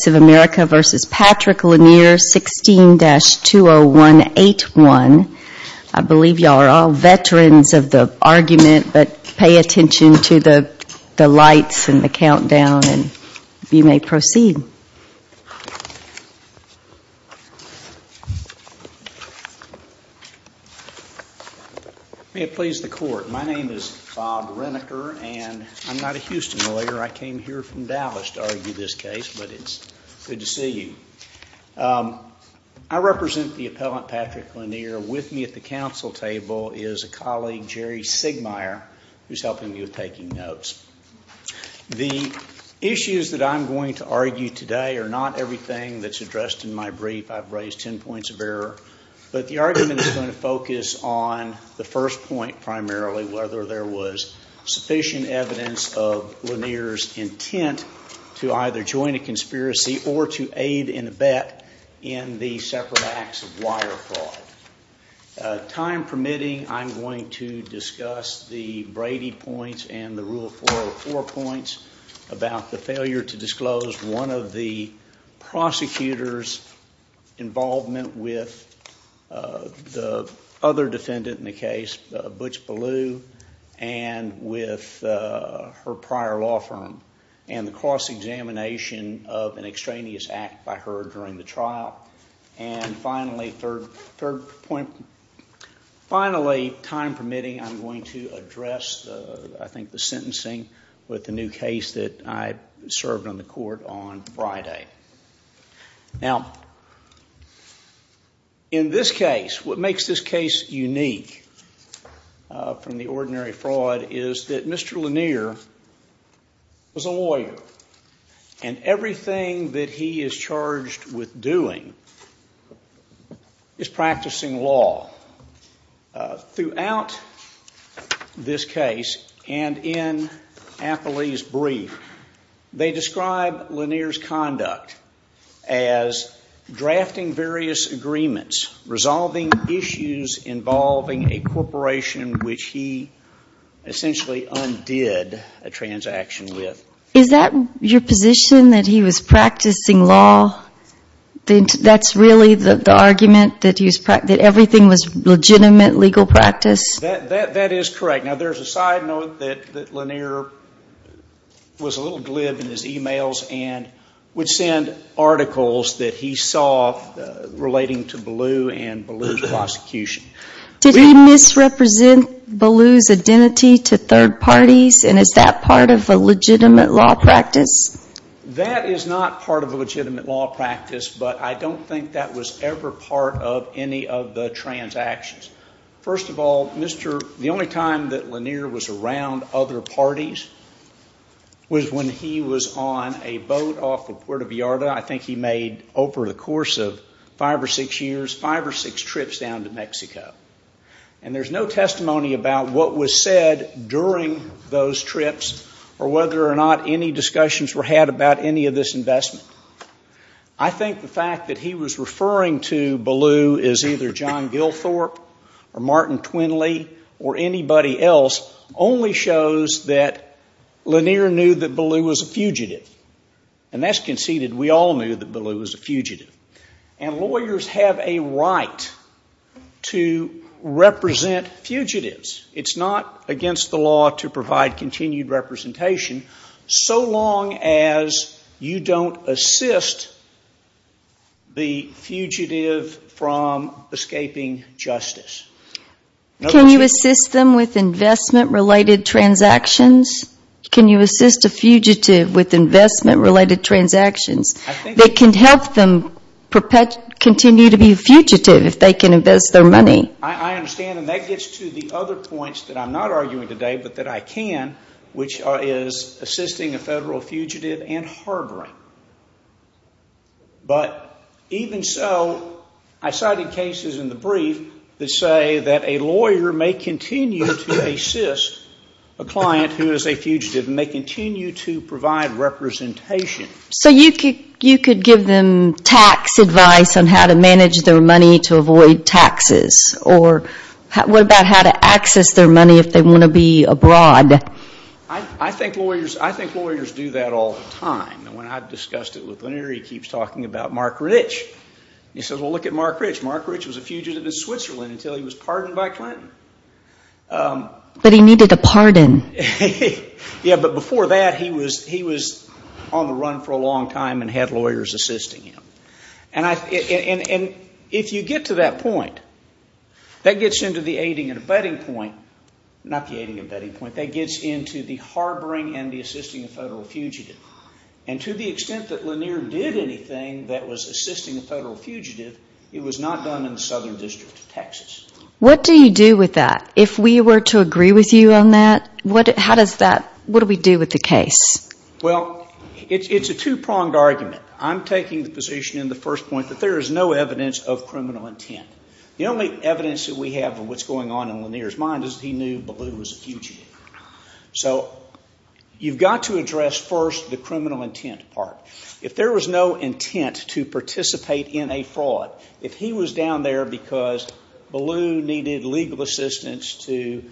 16-20181. I believe you all are all veterans of the argument, but pay attention to the lights and the countdown, and you may proceed. May it please the Court. My name is Bob Renneker, and I'm not a Houston lawyer. I came here from Dallas to argue this case, but it's good to see you. I represent the appellant Patrick Lanier. With me at the council table is a colleague, Jerry Sigmeier, who's helping me with taking notes. The issues that I'm going to argue today are not everything that's addressed in my brief. I've raised 10 points of error, but the argument is going to focus on the first point primarily, whether there was sufficient evidence of Lanier's intent to either join a conspiracy or to aid in a bet in the separate acts of wire fraud. Time permitting, I'm going to discuss the Brady points and the Rule 404 points about the failure to disclose one of the prosecutor's involvement with the other defendant in the case, Butch Ballew, and with her prior law firm, and the cross examination of an extraneous act by her during the trial. Finally, time permitting, I'm going to address the sentencing with the new case that I served on the court on Friday. In this case, what makes this case unique from the ordinary fraud is that Mr. Lanier was a lawyer, and everything that he is charged with doing is practicing law. Throughout this he described Lanier's conduct as drafting various agreements, resolving issues involving a corporation which he essentially undid a transaction with. Is that your position that he was practicing law? That's really the argument that everything was legitimate legal practice? That is correct. Now, there's a side note that Lanier was a little glib in his emails and would send articles that he saw relating to Ballew and Ballew's prosecution. Did he misrepresent Ballew's identity to third parties, and is that part of a legitimate law practice? That is not part of a legitimate law practice, but I don't think that was ever part of any of the transactions. First of all, the only time that Lanier was around other parties was when he was on a boat off of Puerto Vallarta. I think he made, over the course of five or six years, five or six trips down to Mexico. And there's no testimony about what was said during those trips or whether or not any discussions were had about any of this investment. I think the fact that he was referring to Ballew as either John Gilthorpe or Martin Twinley or anybody else only shows that Lanier knew that Ballew was a fugitive. And that's conceded. We all knew that Ballew was a fugitive. And lawyers have a right to represent fugitives. It's not against the law to don't assist the fugitive from escaping justice. Can you assist them with investment-related transactions? Can you assist a fugitive with investment-related transactions that can help them continue to be a fugitive if they can invest their money? I understand, and that gets to the other points that I'm not arguing today, but that I can, which is assisting a federal fugitive and harboring. But even so, I cited cases in the brief that say that a lawyer may continue to assist a client who is a fugitive and may continue to provide representation. So you could give them tax advice on how to manage their money to avoid fraud. I think lawyers do that all the time. And when I've discussed it with Lanier, he keeps talking about Mark Rich. He says, well, look at Mark Rich. Mark Rich was a fugitive in Switzerland until he was pardoned by Clinton. But he needed a pardon. Yeah, but before that he was on the run for a long time and had lawyers assisting him. And if you get to that point, that gets into the aiding and abetting point, not the aiding and abetting point, that gets into the harboring and the assisting a federal fugitive. And to the extent that Lanier did anything that was assisting a federal fugitive, it was not done in the Southern District of Texas. What do you do with that? If we were to agree with you on that, what do we do with the case? Well, it's a two-pronged argument. I'm taking the position in the first point that there is no evidence of criminal intent. The only evidence that we have of what's going on in Lanier's mind is that he knew Ballou was a fugitive. So you've got to address first the criminal intent part. If there was no intent to participate in a fraud, if he was down there because Ballou needed legal assistance to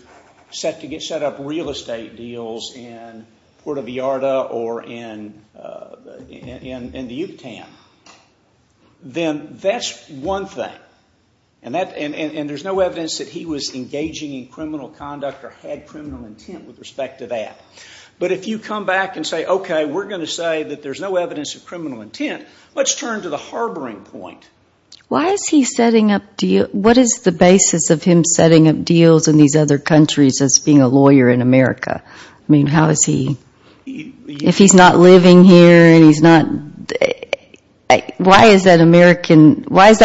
set up real estate deals in Puerto Vallarta or in the Yucatan, then that's one thing. And there's no evidence that he was engaging in criminal conduct or had criminal intent with respect to that. But if you come back and say, okay, we're going to say that there's no evidence of criminal intent, let's turn to the harboring point. Why is he setting up deals, what is the basis of him setting up deals in these other countries as being a lawyer in America? I mean, how is he, if he's not living here and he's not, why is that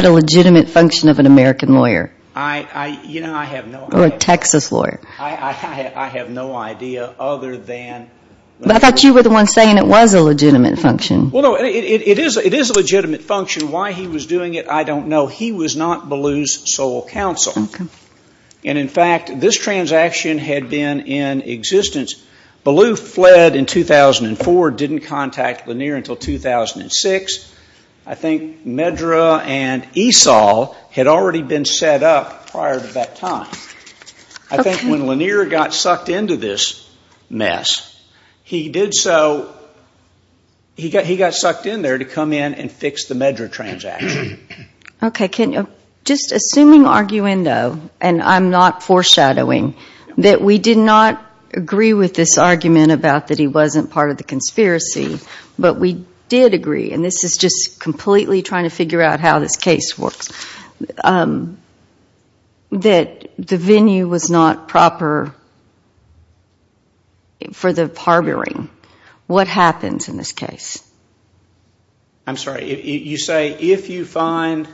a legitimate function of an American lawyer? Or a Texas lawyer? I have no idea other than... But I thought you were the one saying it was a legitimate function. Why he was doing it, I don't know. He was not Ballou's sole counsel. And in fact, this transaction had been in existence. Ballou fled in 2004, didn't contact Lanier until 2006. I think Medra and Esau had already been set up prior to that time. I think when Lanier got sucked into this mess, he did so, he got sucked in there to come in and fix the Medra transaction. Okay. Just assuming arguendo, and I'm not foreshadowing, that we did not agree with this argument about that he wasn't part of the conspiracy, but we did agree, and this is just completely trying to figure out how this case works, that the venue was not proper for the harboring. What happens in this case? I'm sorry, you say if you find...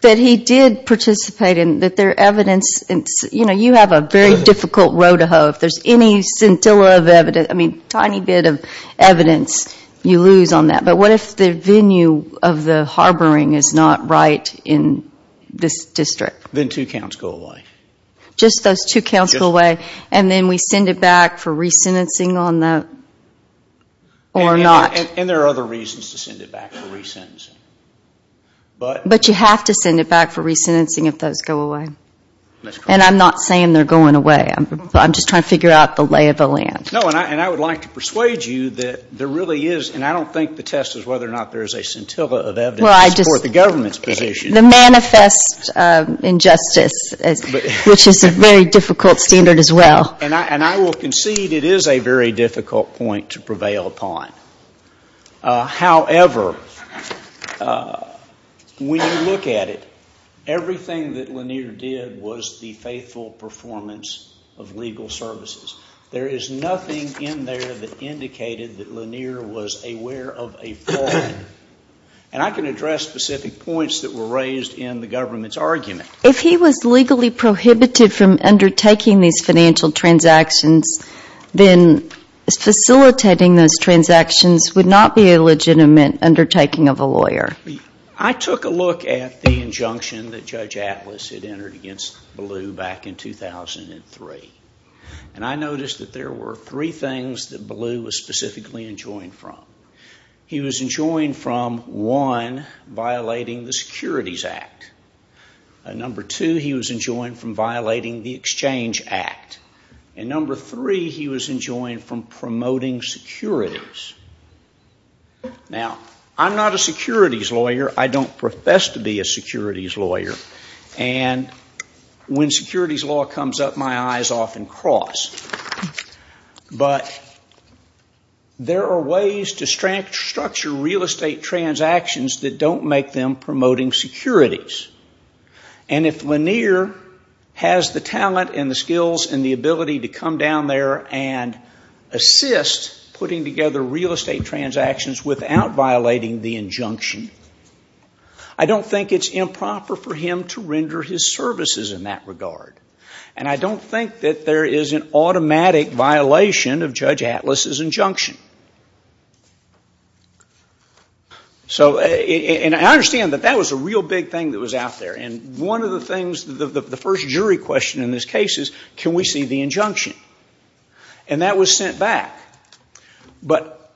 That he did participate in, that there evidence, you know, you have a very difficult road to hoe. If there's any scintilla of evidence, I mean, tiny bit of evidence that's not right in this district. Then two counts go away. Just those two counts go away, and then we send it back for resentencing on the... Or not. And there are other reasons to send it back for resentencing. But you have to send it back for resentencing if those go away. And I'm not saying they're going away. I'm just trying to figure out the lay of the land. No, and I would like to The manifest injustice, which is a very difficult standard as well. And I will concede it is a very difficult point to prevail upon. However, when you look at it, everything that Lanier did was the faithful performance of legal services. There is nothing in there that indicated that Lanier was aware of a fraud. And I can address specific points that were raised in the government's argument. If he was legally prohibited from undertaking these financial transactions, then facilitating those transactions would not be a legitimate undertaking of a lawyer. I took a look at the injunction that Judge Atlas had entered against Ballou back in 2003. And I noticed that there were three things that Ballou was specifically enjoined from. He was enjoined from, one, violating the Securities Act. Number two, he was enjoined from violating the Exchange Act. And number three, he was enjoined from promoting securities. Now, I'm not a securities lawyer. I don't profess to be a securities lawyer. And when securities law comes up, my eyes often cross. But there are ways to structure real estate transactions that don't make them promoting securities. And if Lanier has the talent and the skills and the ability to come down there and assist putting together real estate transactions without violating the injunction, I don't think it's improper for him to render his services in that regard. And I don't think that there is an automatic violation of Judge Atlas's injunction. And I understand that that was a real big thing that was out there. And one of the things, the first jury question in this case is, can we see the injunction? And that was sent back. But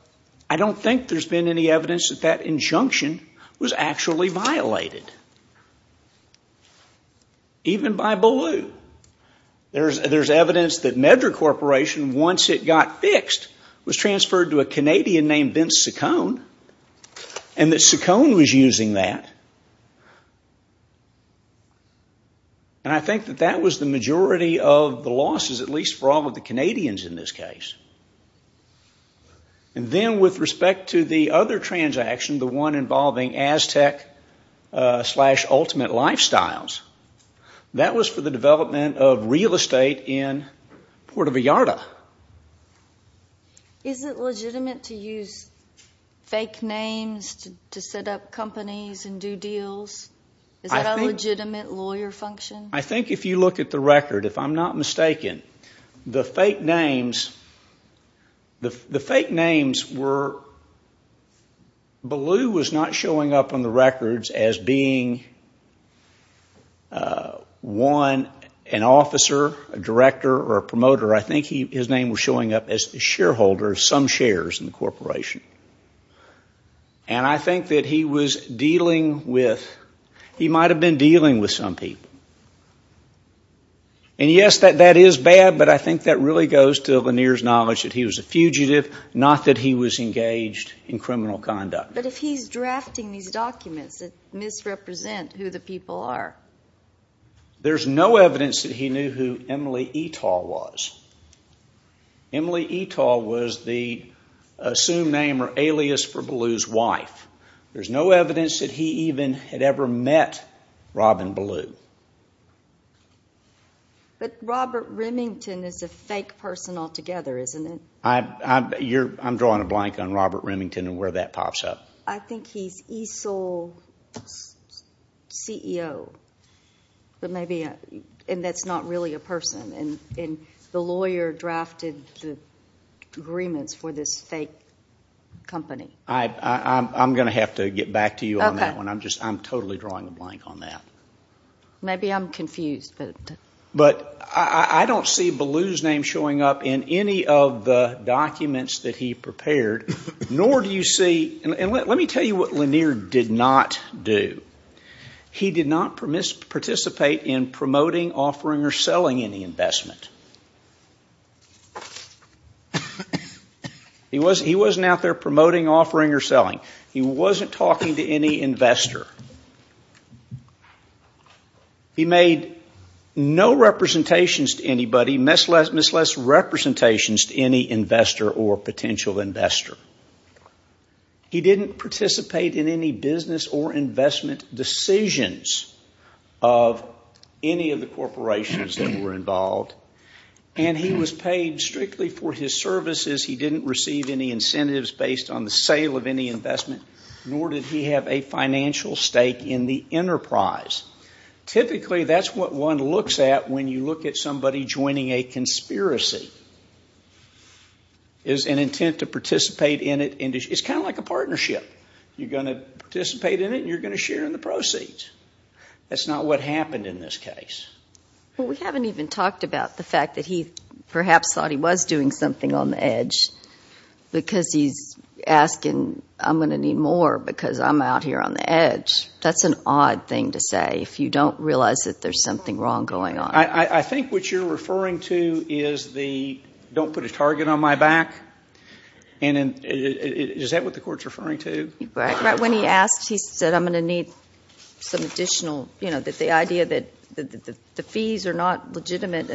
I don't think there's been any evidence that that injunction was actually violated. Even by Ballou. There's evidence that Meddra Corporation, once it got fixed, was transferred to a Canadian named Vince Saccone, and that Saccone was using that. And I think that that was the majority of the losses, at least for all of the Canadians in this case. And then with respect to the other transaction, the one involving Aztec slash Ultimate Lifestyles, that was for the development of real estate in Puerto Vallarta. Is it legitimate to use fake names to set up companies and do deals? Is that a legitimate lawyer function? I think if you look at the record, if I'm not mistaken, the fake names were, Ballou was not showing up on the records as being an officer, a director, or a promoter. I think his name was showing up as a shareholder of some shares in the corporation. And I think that he was dealing with, he might have been dealing with some people. And yes, that is bad, but I think that really goes to Lanier's knowledge that he was a fugitive, not that he was engaged in criminal conduct. But if he's drafting these documents, it misrepresents who the people are. There's no evidence that he knew who Emily Etal was. Emily Etal was the assumed name or alias for Ballou's wife. There's no evidence that he even had ever met Robin Ballou. But Robert Remington is a fake person altogether, isn't it? I'm drawing a blank on Robert Remington and where that pops up. I think he's ESOL's CEO. And that's not really a person. And the lawyer drafted the agreements for this fake company. I'm going to have to get back to you on that one. I'm totally drawing a blank on that. Maybe I'm confused. But I don't see Ballou's name showing up in any of the documents that he prepared, nor do you see, and let me tell you what Lanier did not do. He did not participate in promoting, offering, or selling any investment. He wasn't out there promoting, offering, or selling. He wasn't talking to any investor. He made no representations to anybody, misrepresentations to any investor or potential investor. He didn't participate in any business or investment decisions of any of the corporations that were involved. And he was paid strictly for his services. He didn't receive any incentives based on the sale of any investment, nor did he have a financial stake in the enterprise. Typically that's what one looks at when you look at somebody joining a conspiracy, is an intent to participate in it. It's kind of like a partnership. You're going to participate in it and you're going to share in the proceeds. That's not what happened in this case. Well, we haven't even talked about the fact that he perhaps thought he was doing something on the edge because he's asking, I'm going to need more because I'm out here on the edge. That's an odd thing to say if you don't realize that there's something wrong going on. I think what you're referring to is the don't put a target on my back. And is that what the court's referring to? When he asked, he said, I'm going to need some additional, you know, the idea that the fees are not legitimate.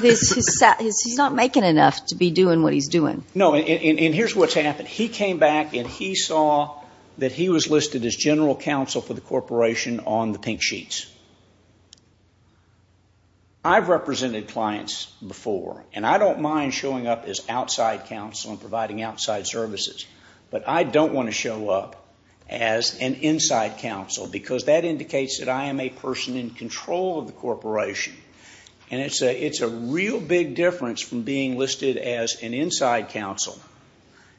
He's not making enough to be doing what he's doing. No, and here's what's happened. He came back and he saw that he was listed as general counsel for the corporation on the pink sheets. I've represented clients before, and I don't mind showing up as outside counsel and providing outside services, but I don't want to show up as an inside counsel because that indicates that I am a person in control of the corporation. And it's a real big difference from being listed as an inside counsel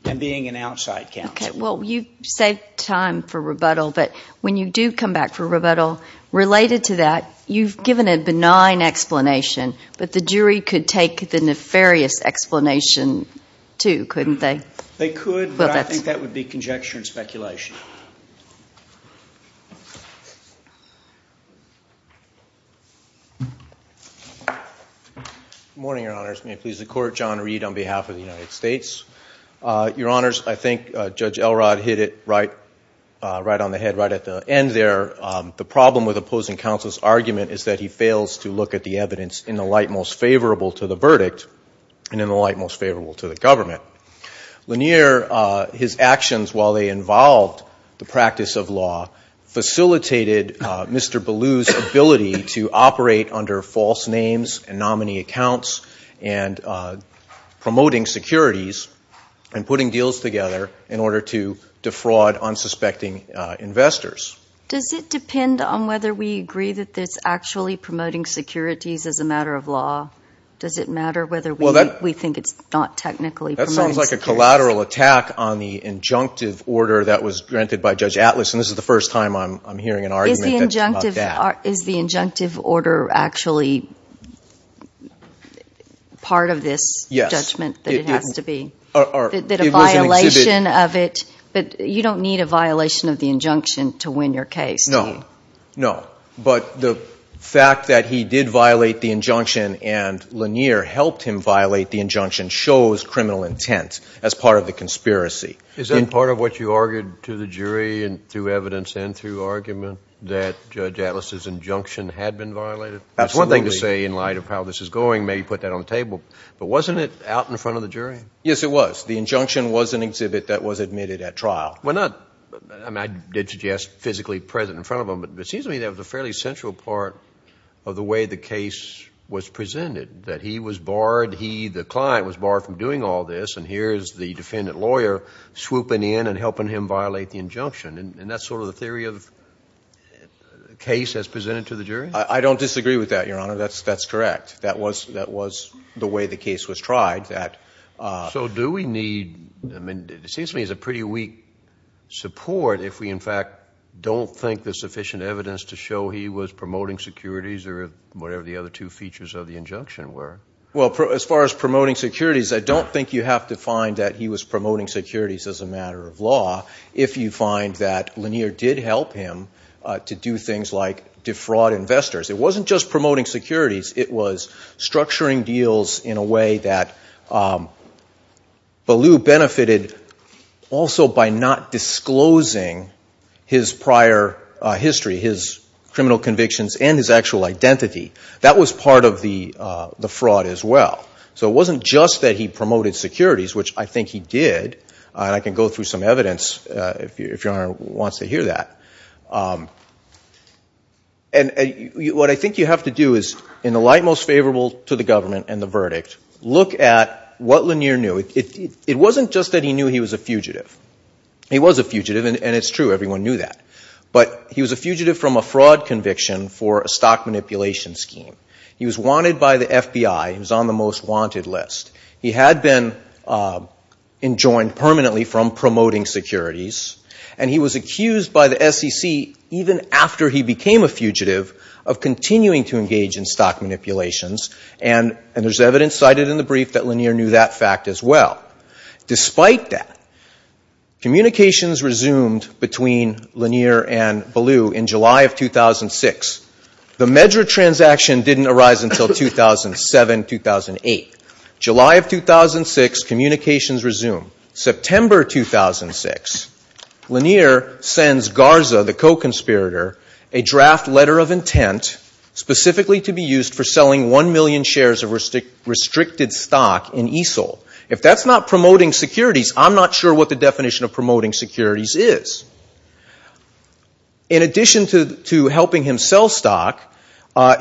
and being an outside counsel. Well, you saved time for rebuttal, but when you do come back for rebuttal, related to that, you've given a benign explanation, but the jury could take the nefarious explanation too, couldn't they? They could, but I think that would be conjecture and speculation. Good morning, Your Honors. May it please the Court, John Reed on behalf of the United States. Your Honors, I think Judge Elrod hit it right on the head, right at the end there. The problem with opposing counsel's argument is that he fails to look at the evidence in the light most favorable to the verdict and in the light most favorable to the government. Lanier, his actions while they involved the practice of law, facilitated Mr. Ballou's ability to operate under false names and nominee accounts and promoting securities and putting deals together in order to defraud unsuspecting investors. Does it depend on whether we agree that it's actually promoting securities as a matter of law? Does it matter whether we think it's not technically promoting securities? It sounds like a collateral attack on the injunctive order that was granted by Judge Atlas, and this is the first time I'm hearing an argument about that. Is the injunctive order actually part of this judgment that it has to be? It was an exhibit. But you don't need a violation of the injunction to win your case, do you? No, but the fact that he did violate the injunction and Lanier helped him violate the injunction shows criminal intent as part of the conspiracy. Is that part of what you argued to the jury through evidence and through argument that Judge Atlas' injunction had been violated? Absolutely. That's one thing to say in light of how this is going, maybe put that on the table. But wasn't it out in front of the jury? Yes, it was. The injunction was an exhibit that was admitted at trial. I did suggest physically present in front of him, but it seems to me that was a fairly central part of the way the case was presented, that he was barred, he, the client, was barred from doing all this, and here's the defendant lawyer swooping in and helping him violate the injunction. And that's sort of the theory of the case as presented to the jury? I don't disagree with that, Your Honor. That's correct. That was the way the case was tried. So do we need, it seems to me it's a pretty weak support if we in fact don't think there's sufficient evidence to show he was promoting securities or whatever the other two features of the injunction were. Well, as far as promoting securities, I don't think you have to find that he was promoting securities as a matter of law if you find that Lanier did help him to do things like defraud investors. It wasn't just promoting securities. It was structuring deals in a way that Ballew benefited also by not disclosing his prior history, his criminal convictions, and his actual identity. That was part of the fraud as well. So it wasn't just that he promoted securities, which I think he did, and I can go through some evidence if Your Honor wants to hear that. And what I think you have to do is, in the light most favorable to the government and the verdict, look at what Lanier knew. It wasn't just that he knew he was a fugitive. He was a fugitive, and it's true, everyone knew that. But he was a fugitive from a fraud conviction for a stock manipulation scheme. He was wanted by the FBI. He was on the most wanted list. He had been enjoined permanently from promoting securities. And he was accused by the SEC, even after he became a fugitive, of continuing to engage in stock manipulations, and there's evidence cited in the brief that Lanier knew that fact as well. Despite that, communications resumed between Lanier and Ballew in July of 2006. The MEDRA transaction didn't arise until 2007, 2008. July of 2006, communications resumed. September 2006, Lanier sends Garza, the co-conspirator, a draft letter of intent, specifically to be used for selling 1 million shares of restricted stock in ESOL. If that's not promoting securities, I'm not sure what the definition of promoting securities is. In addition to helping him sell stock,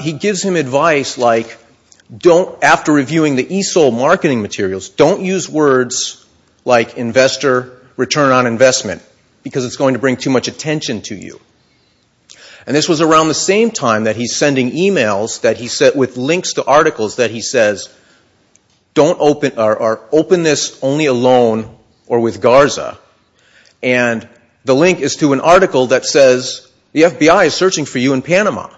he gives him advice like, after reviewing the ESOL marketing materials, don't use words like investor, return on investment, because it's going to bring too much attention to you. And this was around the same time that he's sending emails with links to articles that he says, open this only alone or with Garza. And the link is to an article that says, the FBI is searching for you in Panama.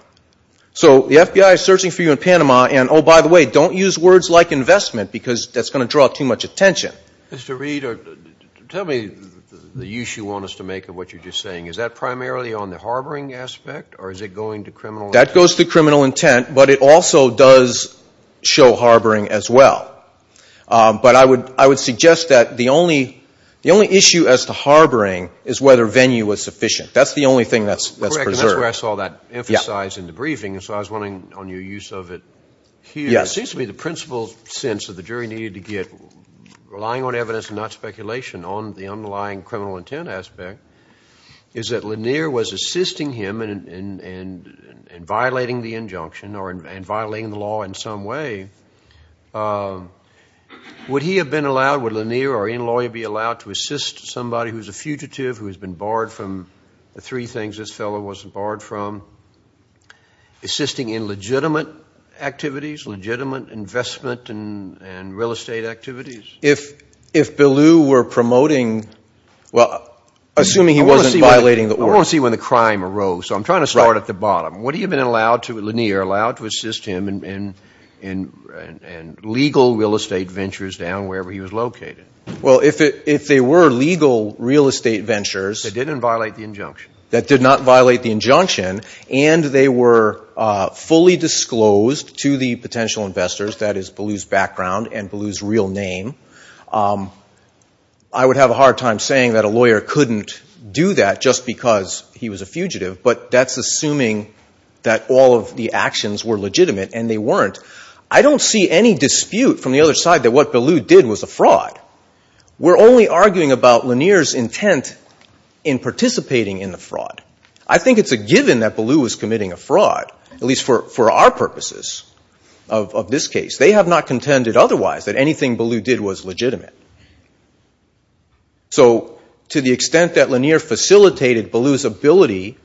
So the FBI is searching for you in Panama, and oh, by the way, don't use words like investment, because that's going to draw too much attention. Mr. Reid, tell me the use you want us to make of what you're just saying. Is that primarily on the harboring aspect, or is it going to criminal intent? But it also does show harboring as well. But I would suggest that the only issue as to harboring is whether venue is sufficient. That's the only thing that's preserved. That's where I saw that emphasized in the briefing, and so I was wondering on your use of it here. It seems to me the principle sense that the jury needed to get, relying on evidence and not speculation, on the underlying criminal intent aspect is that Lanier was assisting him in violating the injunction or in violating the law in some way. Would he have been allowed, would Lanier or any lawyer be allowed to assist somebody who's a fugitive, who has been barred from the three things this fellow wasn't barred from, assisting in legitimate activities, legitimate investment and real estate activities? If Ballou were promoting, well, assuming he wasn't violating the order. I want to see when the crime arose, so I'm trying to start at the bottom. Would he have been allowed to, Lanier, allowed to assist him in legal real estate ventures down wherever he was located? Well, if they were legal real estate ventures. That didn't violate the injunction. That did not violate the injunction, and they were fully disclosed to the potential investors. That is Ballou's background and Ballou's real name. I would have a hard time saying that a lawyer couldn't do that just because he was a fugitive, but that's assuming that all of the actions were legitimate and they weren't. I don't see any dispute from the other side that what Ballou did was a fraud. We're only arguing about Lanier's intent in participating in the fraud. I think it's a given that Ballou was committing a fraud, at least for our purposes of this case. They have not contended otherwise that anything Ballou did was legitimate. So to the extent that Lanier facilitated Ballou's ability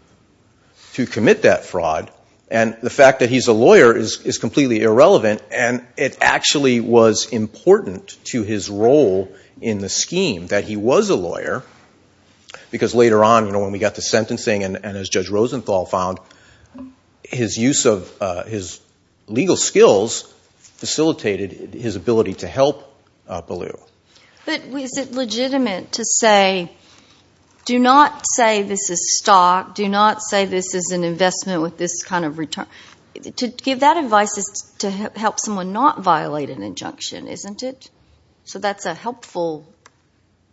to commit that fraud, and the fact that he's a lawyer is completely irrelevant, and it actually was important to his role in the scheme that he was a lawyer, because later on when we got to sentencing, and as Judge Rosenthal found, his use of his legal skills facilitated his ability to help Ballou. But is it legitimate to say, do not say this is stock, do not say this is an investment with this kind of return? To give that advice is to help someone not violate an injunction, isn't it? So that's a helpful,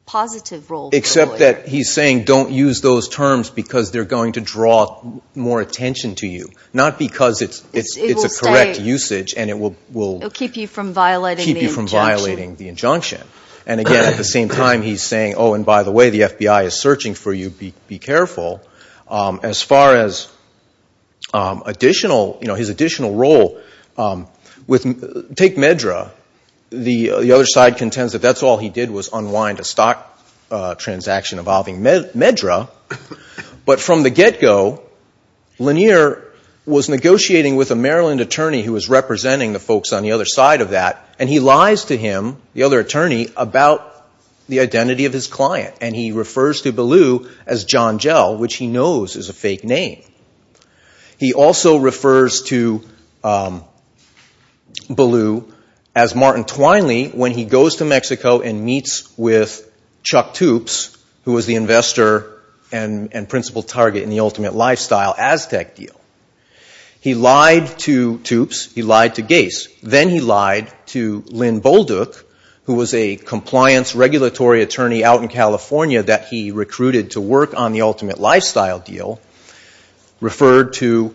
positive role for the lawyer. Except that he's saying don't use those terms because they're going to draw more attention to you, not because it's a correct usage and it will keep you from violating the injunction. And again, at the same time he's saying, oh, and by the way, the FBI is searching for you, be careful. As far as additional, you know, his additional role, take Medra, the other side contends that that's all he did was unwind a stock transaction involving Medra, but from the get-go, Lanier was negotiating with a Maryland attorney who was representing the folks on the other side of that, and he lies to him, the other attorney, about the identity of his client, and he refers to Ballou as John Gell, which he knows is a fake name. He also refers to Ballou as Martin Twinely when he goes to Mexico and meets with Chuck Toopes, who was the investor and principal target in the Ultimate Lifestyle Aztec deal. He lied to Toopes, he lied to Gace, then he lied to Lynn Bolduc, who was a compliance regulatory attorney out in California that he recruited to work on the Ultimate Lifestyle deal, referred to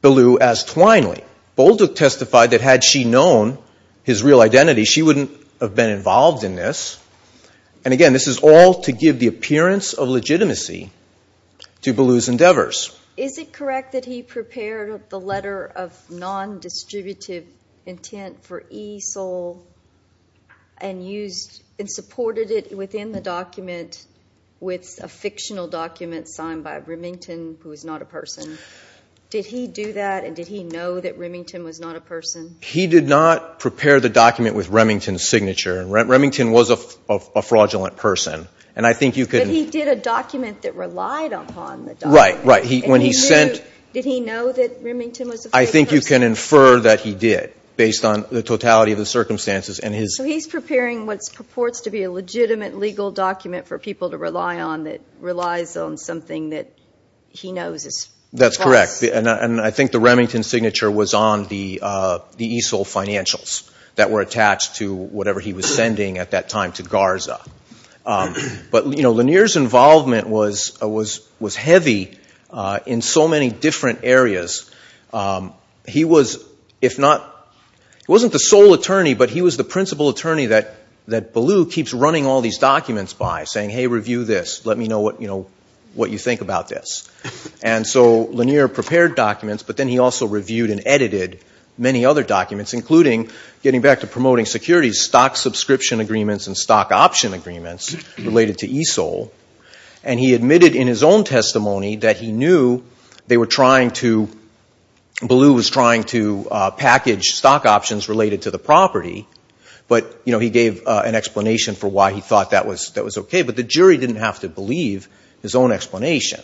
Ballou as Twinely. Bolduc testified that had she known his real identity, she wouldn't have been involved in this. And again, this is all to give the appearance of legitimacy to Ballou's endeavors. Is it correct that he prepared the letter of non-distributive intent for ESOL, and supported it within the document with a fictional document signed by Remington, who is not a person? Did he do that, and did he know that Remington was not a person? He did not prepare the document with Remington's signature. Remington was a fraudulent person. But he did a document that relied upon the document. Did he know that Remington was a fake person? I think you can infer that he did, based on the totality of the circumstances. So he's preparing what purports to be a legitimate legal document for people to rely on that relies on something that he knows is false. That's correct. And I think the Remington signature was on the ESOL financials that were attached to whatever he was sending at that time to Garza. But Lanier's involvement was heavy in so many different areas, and he was, if not, he wasn't the sole attorney, but he was the principal attorney that Ballou keeps running all these documents by, saying, hey, review this, let me know what you think about this. And so Lanier prepared documents, but then he also reviewed and edited many other documents, including getting back to promoting securities, stock subscription agreements and stock option agreements related to ESOL. And he admitted in his own testimony that he knew they were trying to Ballou's interests. He knew he was trying to package stock options related to the property, but he gave an explanation for why he thought that was okay. But the jury didn't have to believe his own explanation.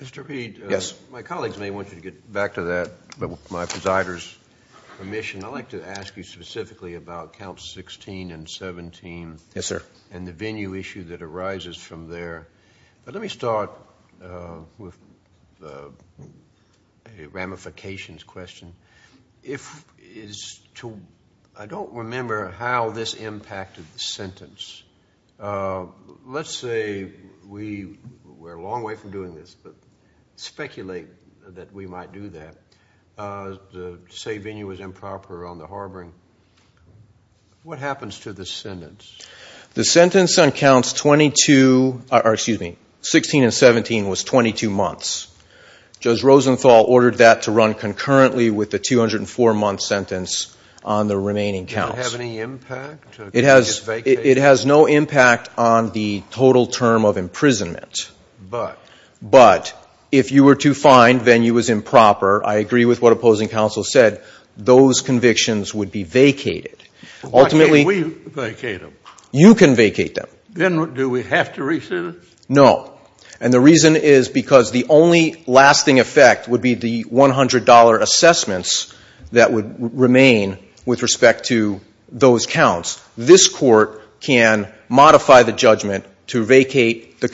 Mr. Peete, my colleagues may want you to get back to that, but with my presider's permission, I'd like to ask you specifically about Counts 16 and 17 and the venue issue that arises from there. But let me start with a ramifications question. I don't remember how this impacted the sentence. Let's say we're a long way from doing this, but speculate that we might do that. To say venue was improper on the harboring, what happens to the sentence? The sentence on Counts 22, or excuse me, 16 and 17 was 22 months. Judge Rosenthal ordered that to run concurrently with the 204-month sentence on the remaining counts. Did it have any impact? It has no impact on the total term of imprisonment. But? But if you were to find venue was improper, I agree with what opposing counsel said, those convictions would be vacated. Why can't we vacate them? You can vacate them. Then do we have to rescind it? No. And the reason is because the only lasting effect would be the $100 assessments that would remain with respect to those counts. This Court can modify the judgment to vacate the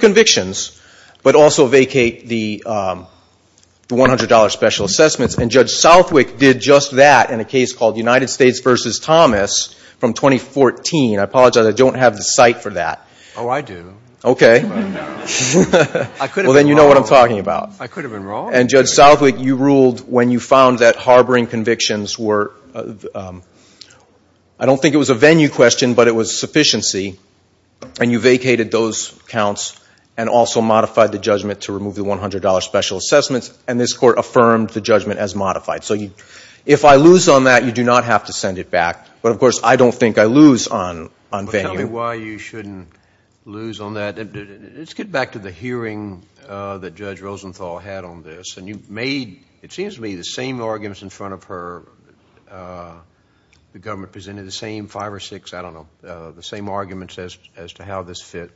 convictions, but also vacate the $100 special assessments. And Judge Southwick did just that in a case called United States v. Thomas from 2014. I apologize, I don't have the cite for that. Oh, I do. Okay. Well, then you know what I'm talking about. I could have been wrong. And Judge Southwick, you ruled when you found that harboring convictions were, I don't think it was a venue question, but it was sufficiency. And you vacated those counts and also modified the judgment to remove the $100 special assessments. And this Court affirmed the judgment as modified. So if I lose on that, you do not have to send it back. But, of course, I don't think I lose on venue. Tell me why you shouldn't lose on that. Let's get back to the hearing that Judge Rosenthal had on this. And you made, it seems to me, the same arguments in front of her. The government presented the same five or six, I don't know, the same arguments as to how this fit.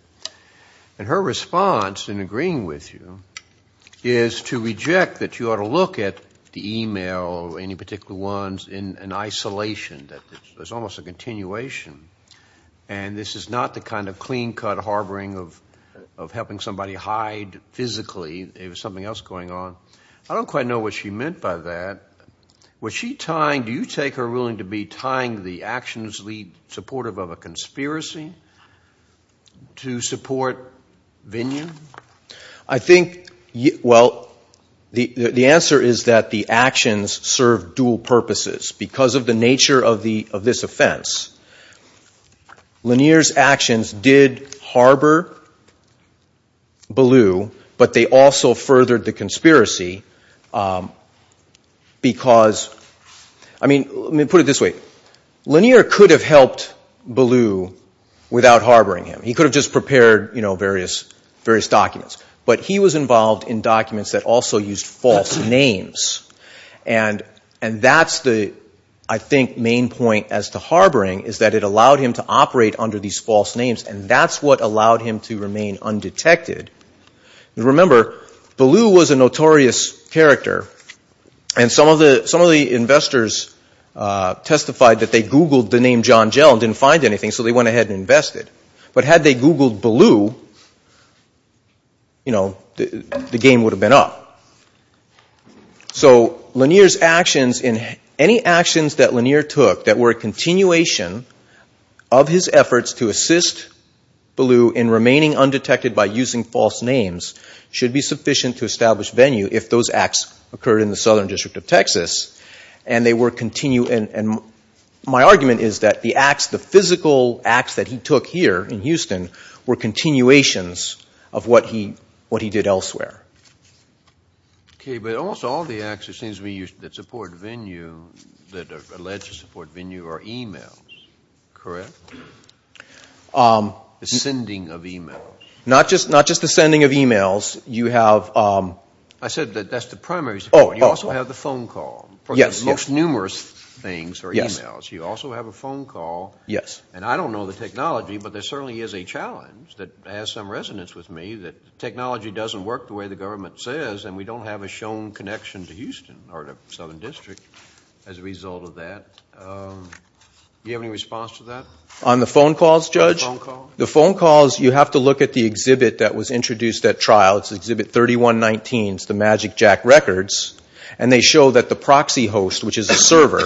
And her response, in agreeing with you, is to reject that you ought to look at the e-mail or any particular ones in isolation. There's almost a continuation. And this is not the kind of clean-cut harboring of helping somebody hide physically. It was something else going on. I don't quite know what she meant by that. Was she tying, do you take her ruling to be tying the actions lead supportive of a conspiracy to support Vinyon? I think, well, the answer is that the actions serve dual purposes because of the nature of this offense. Lanier's actions did harbor Ballou. But they also furthered the conspiracy because, I mean, let me put it this way. Lanier could have helped Ballou without harboring him. He could have just prepared various documents. But he was involved in documents that also used false names. And that's the, I think, main point as to harboring is that it allowed him to operate under these false names. And that's what allowed him to remain undetected. Remember, Ballou was a notorious character. And some of the investors testified that they Googled the name John Gell and didn't find anything. So they went ahead and invested. But had they Googled Ballou, the game would have been up. So Lanier's actions, any actions that Lanier took that were a continuation of his efforts to assist Ballou in remaining undetected by using false names, should be sufficient to establish venue if those acts occurred in the Southern District of Texas. And my argument is that the physical acts that he took here in Houston were continuations of what he did elsewhere. Okay, but almost all the acts, it seems to me, that support venue, that are alleged to support venue, are e-mails, correct? The sending of e-mails. Not just the sending of e-mails. I said that that's the primary support. Oh, and you also have the phone call. Yes, yes. Most numerous things are e-mails. You also have a phone call. Yes. And I don't know the technology, but there certainly is a challenge that has some resonance with me that technology doesn't work the way the government says, and we don't have a shown connection to Houston or the Southern District as a result of that. Do you have any response to that? On the phone calls, Judge? On the phone calls. The phone calls, you have to look at the exhibit that was introduced at trial. It's Exhibit 3119. It's the Magic Jack Records, and they show that the proxy host, which is a server,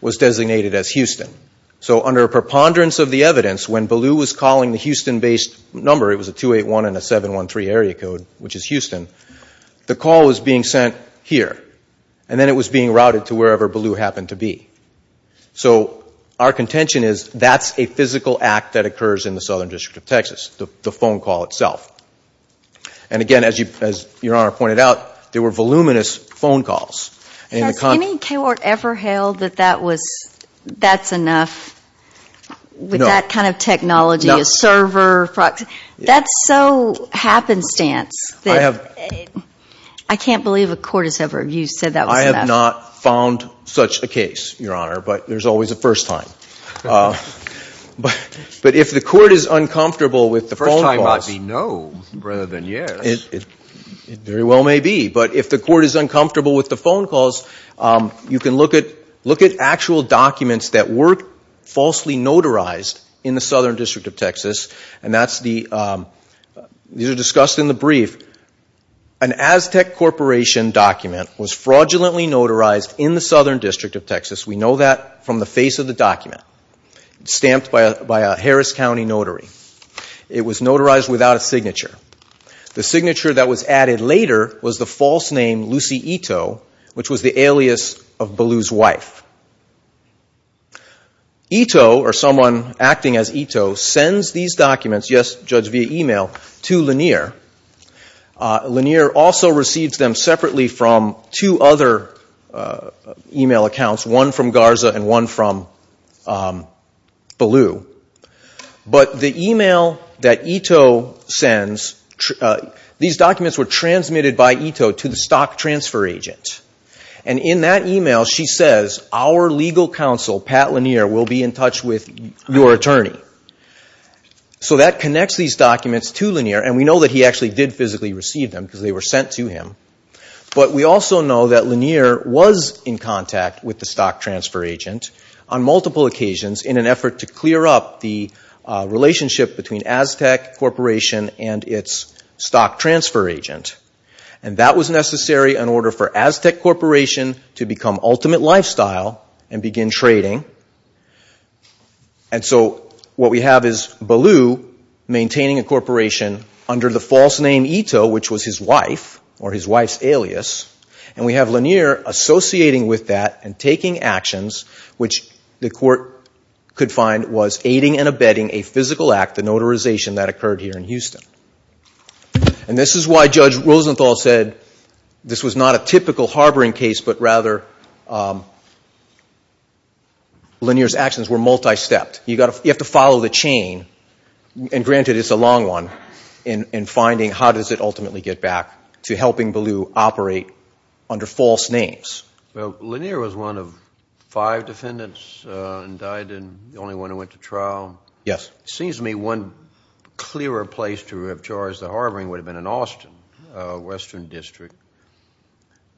was designated as Houston. So under a preponderance of the evidence, when Ballou was calling the Houston-based number, it was a 281 and a 713 area code, which is Houston, the call was being sent here, and then it was being routed to wherever Ballou happened to be. So our contention is that's a physical act that occurs in the Southern District of Texas, the phone call itself. And, again, as Your Honor pointed out, there were voluminous phone calls. Has any court ever held that that's enough with that kind of technology, a server proxy? That's so happenstance that I can't believe a court has ever said that was enough. I have not found such a case, Your Honor, but there's always a first time. But if the court is uncomfortable with the phone calls. It may well be no rather than yes. It very well may be, but if the court is uncomfortable with the phone calls, you can look at actual documents that were falsely notarized in the Southern District of Texas, and these are discussed in the brief. An Aztec Corporation document was fraudulently notarized in the Southern District of Texas. We know that from the face of the document, stamped by a Harris County notary. It was notarized without a signature. The signature that was added later was the false name Lucy Ito, which was the alias of Ballew's wife. Ito, or someone acting as Ito, sends these documents, yes, judged via e-mail, to Lanier. Lanier also receives them separately from two other e-mail accounts, one from Garza and one from Ballew. But the e-mail that Ito sends, these documents were transmitted by Ito to the stock transfer agent. And in that e-mail, she says, our legal counsel, Pat Lanier, will be in touch with your attorney. So that connects these documents to Lanier, and we know that he actually did physically receive them because they were sent to him. But we also know that Lanier was in contact with the stock transfer agent on multiple occasions in an effort to clear up the relationship between Aztec Corporation and its stock transfer agent. And that was necessary in order for Aztec Corporation to become ultimate lifestyle and begin trading. And so what we have is Ballew maintaining a corporation under the false name Ito, which was his wife, or his wife's alias. And we have Lanier associating with that and taking actions, which the court could find was aiding and abetting a physical act, the notarization that occurred here in Houston. And this is why Judge Rosenthal said this was not a typical harboring case, but rather Lanier's actions were multi-stepped. You have to follow the chain, and granted it's a long one, in finding how does it ultimately get back to helping Ballew operate under false names. Well, Lanier was one of five defendants indicted, the only one who went to trial. Yes. It seems to me one clearer place to have charged the harboring would have been in Austin, Western District.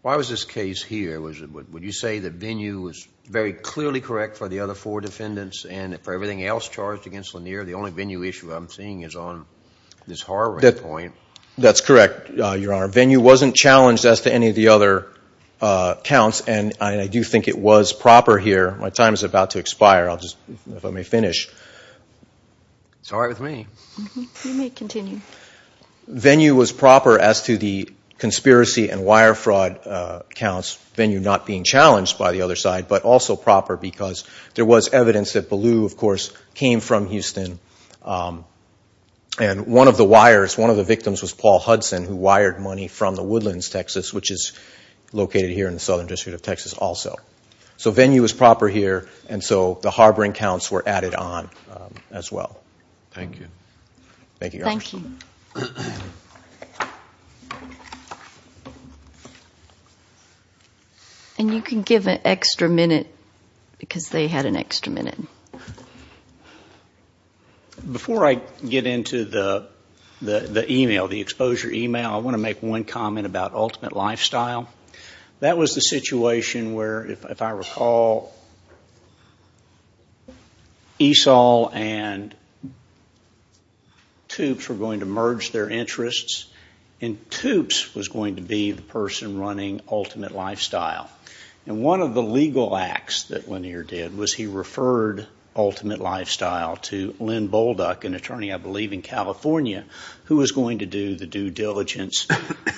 Why was this case here? Would you say that Venue was very clearly correct for the other four defendants and for everything else charged against Lanier? The only Venue issue I'm seeing is on this harboring point. That's correct, Your Honor. Venue wasn't challenged as to any of the other counts, and I do think it was proper here. My time is about to expire. I'll just, if I may finish. It's all right with me. You may continue. Venue was proper as to the conspiracy and wire fraud counts, Venue not being challenged by the other side, but also proper because there was evidence that Ballew, of course, came from Houston, and one of the wires, one of the victims was Paul Hudson, who wired money from the Woodlands, Texas, which is located here in the Southern District of Texas also. So Venue was proper here, and so the harboring counts were added on as well. Thank you. Thank you, Your Honor. Thank you. And you can give an extra minute because they had an extra minute. Before I get into the email, the exposure email, I want to make one comment about Ultimate Lifestyle. That was the situation where, if I recall, ESOL and TOOPS were going to merge their interests, and TOOPS was going to be the person running Ultimate Lifestyle. And one of the legal acts that Lanier did was he referred Ultimate Lifestyle to Len Bolduck, an attorney, I believe, in California, who was going to do the due diligence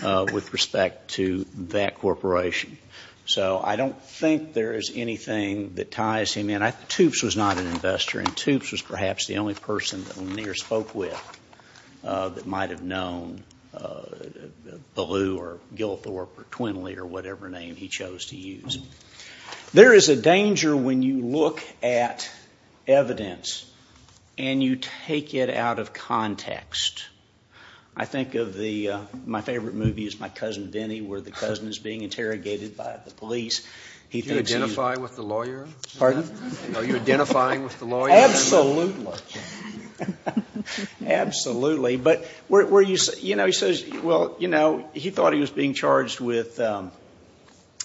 with respect to that corporation. So I don't think there is anything that ties him in. TOOPS was not an investor, and TOOPS was perhaps the only person that Lanier spoke with that might have known Ballew or Gillithorpe or Twinley or whatever name he chose to use. There is a danger when you look at evidence and you take it out of context. I think of my favorite movie is My Cousin Vinny where the cousin is being interrogated by the police. Do you identify with the lawyer? Pardon? Are you identifying with the lawyer? Absolutely. Absolutely. He says, well, you know, he thought he was being charged with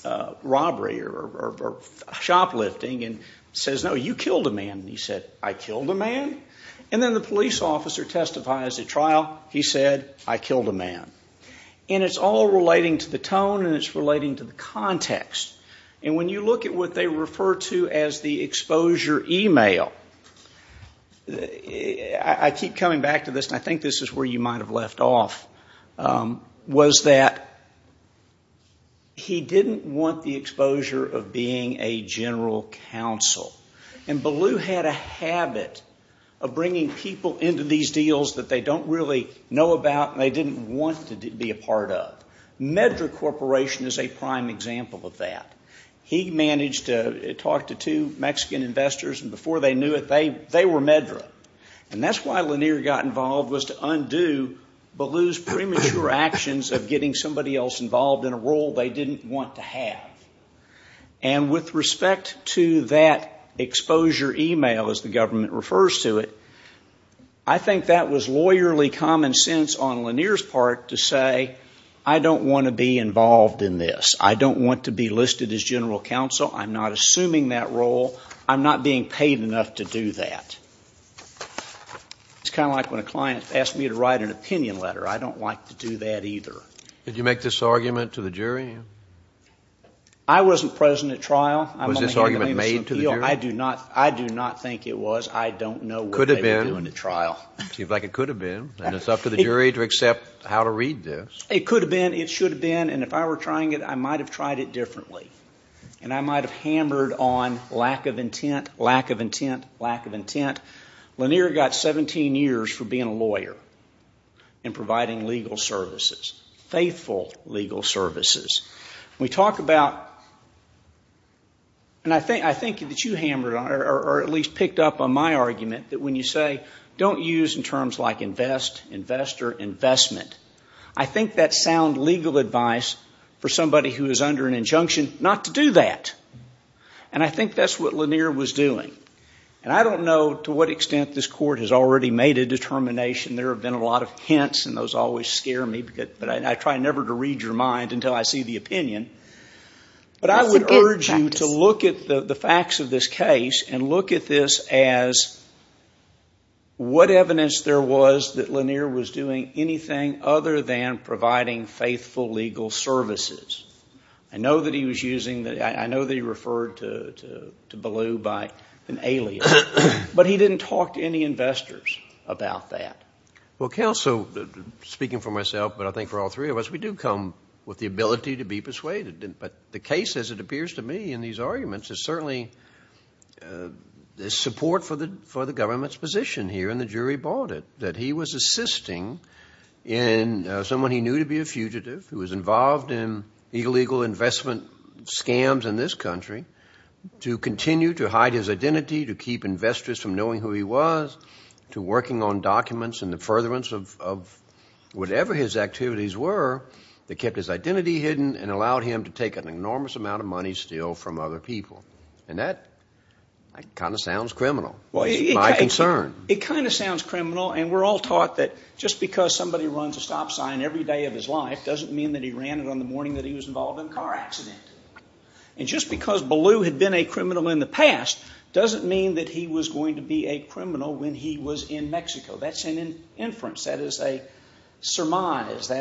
robbery or shoplifting and says, no, you killed a man. He said, I killed a man? And then the police officer testifies at trial. He said, I killed a man. And it's all relating to the tone and it's relating to the context. And when you look at what they refer to as the exposure email, I keep coming back to this, and I think this is where you might have left off, was that he didn't want the exposure of being a general counsel. And Ballew had a habit of bringing people into these deals that they don't really know about and they didn't want to be a part of. Meddra Corporation is a prime example of that. He managed to talk to two Mexican investors, and before they knew it, they were Meddra. And that's why Lanier got involved was to undo Ballew's premature actions of getting somebody else involved in a role they didn't want to have. And with respect to that exposure email, as the government refers to it, I think that was lawyerly common sense on Lanier's part to say, I don't want to be involved in this. I don't want to be listed as general counsel. I'm not assuming that role. I'm not being paid enough to do that. It's kind of like when a client asks me to write an opinion letter. I don't like to do that either. Did you make this argument to the jury? I wasn't present at trial. Was this argument made to the jury? I do not think it was. I don't know what they were doing at trial. Seems like it could have been. And it's up to the jury to accept how to read this. It could have been. It should have been. And if I were trying it, I might have tried it differently. And I might have hammered on lack of intent, lack of intent, lack of intent. Lanier got 17 years for being a lawyer and providing legal services, faithful legal services. We talk about, and I think that you hammered on, or at least picked up on my argument, that when you say don't use in terms like invest, investor, investment, I think that's sound legal advice for somebody who is under an injunction not to do that. And I think that's what Lanier was doing. And I don't know to what extent this Court has already made a determination. There have been a lot of hints, and those always scare me. But I try never to read your mind until I see the opinion. But I would urge you to look at the facts of this case and look at this as what evidence there was that Lanier was doing anything other than providing faithful legal services. I know that he was using, I know that he referred to Ballou by an alias. But he didn't talk to any investors about that. Well, Counsel, speaking for myself, but I think for all three of us, we do come with the ability to be persuaded. But the case, as it appears to me in these arguments, is certainly the support for the government's position here, and the jury bought it, that he was assisting in someone he knew to be a fugitive who was involved in illegal investment scams in this country to continue to hide his identity, to keep investors from knowing who he was, to working on documents and the furtherance of whatever his activities were that kept his identity hidden and allowed him to take an enormous amount of money still from other people. And that kind of sounds criminal. It's my concern. It kind of sounds criminal, and we're all taught that just because somebody runs a stop sign every day of his life doesn't mean that he ran it on the morning that he was involved in a car accident. And just because Ballou had been a criminal in the past doesn't mean that he was going to be a criminal when he was in Mexico. That's an inference. That is a surmise.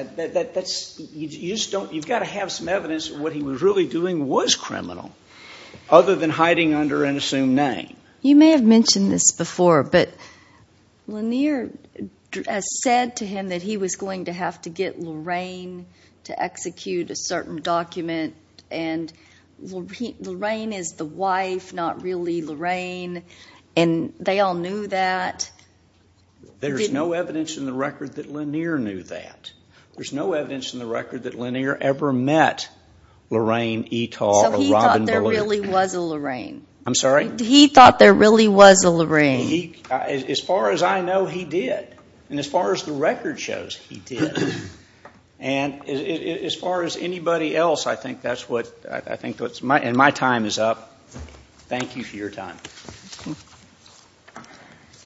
You've got to have some evidence that what he was really doing was criminal other than hiding under an assumed name. You may have mentioned this before, but Lanier has said to him that he was going to have to get Lorraine to execute a certain document, and Lorraine is the wife, not really Lorraine, and they all knew that. There's no evidence in the record that Lanier knew that. There's no evidence in the record that Lanier ever met Lorraine Etal or Robin Ballou. So he thought there really was a Lorraine. I'm sorry? He thought there really was a Lorraine. As far as I know, he did. And as far as the record shows, he did. And as far as anybody else, I think that's what's my time is up. Thank you for your time.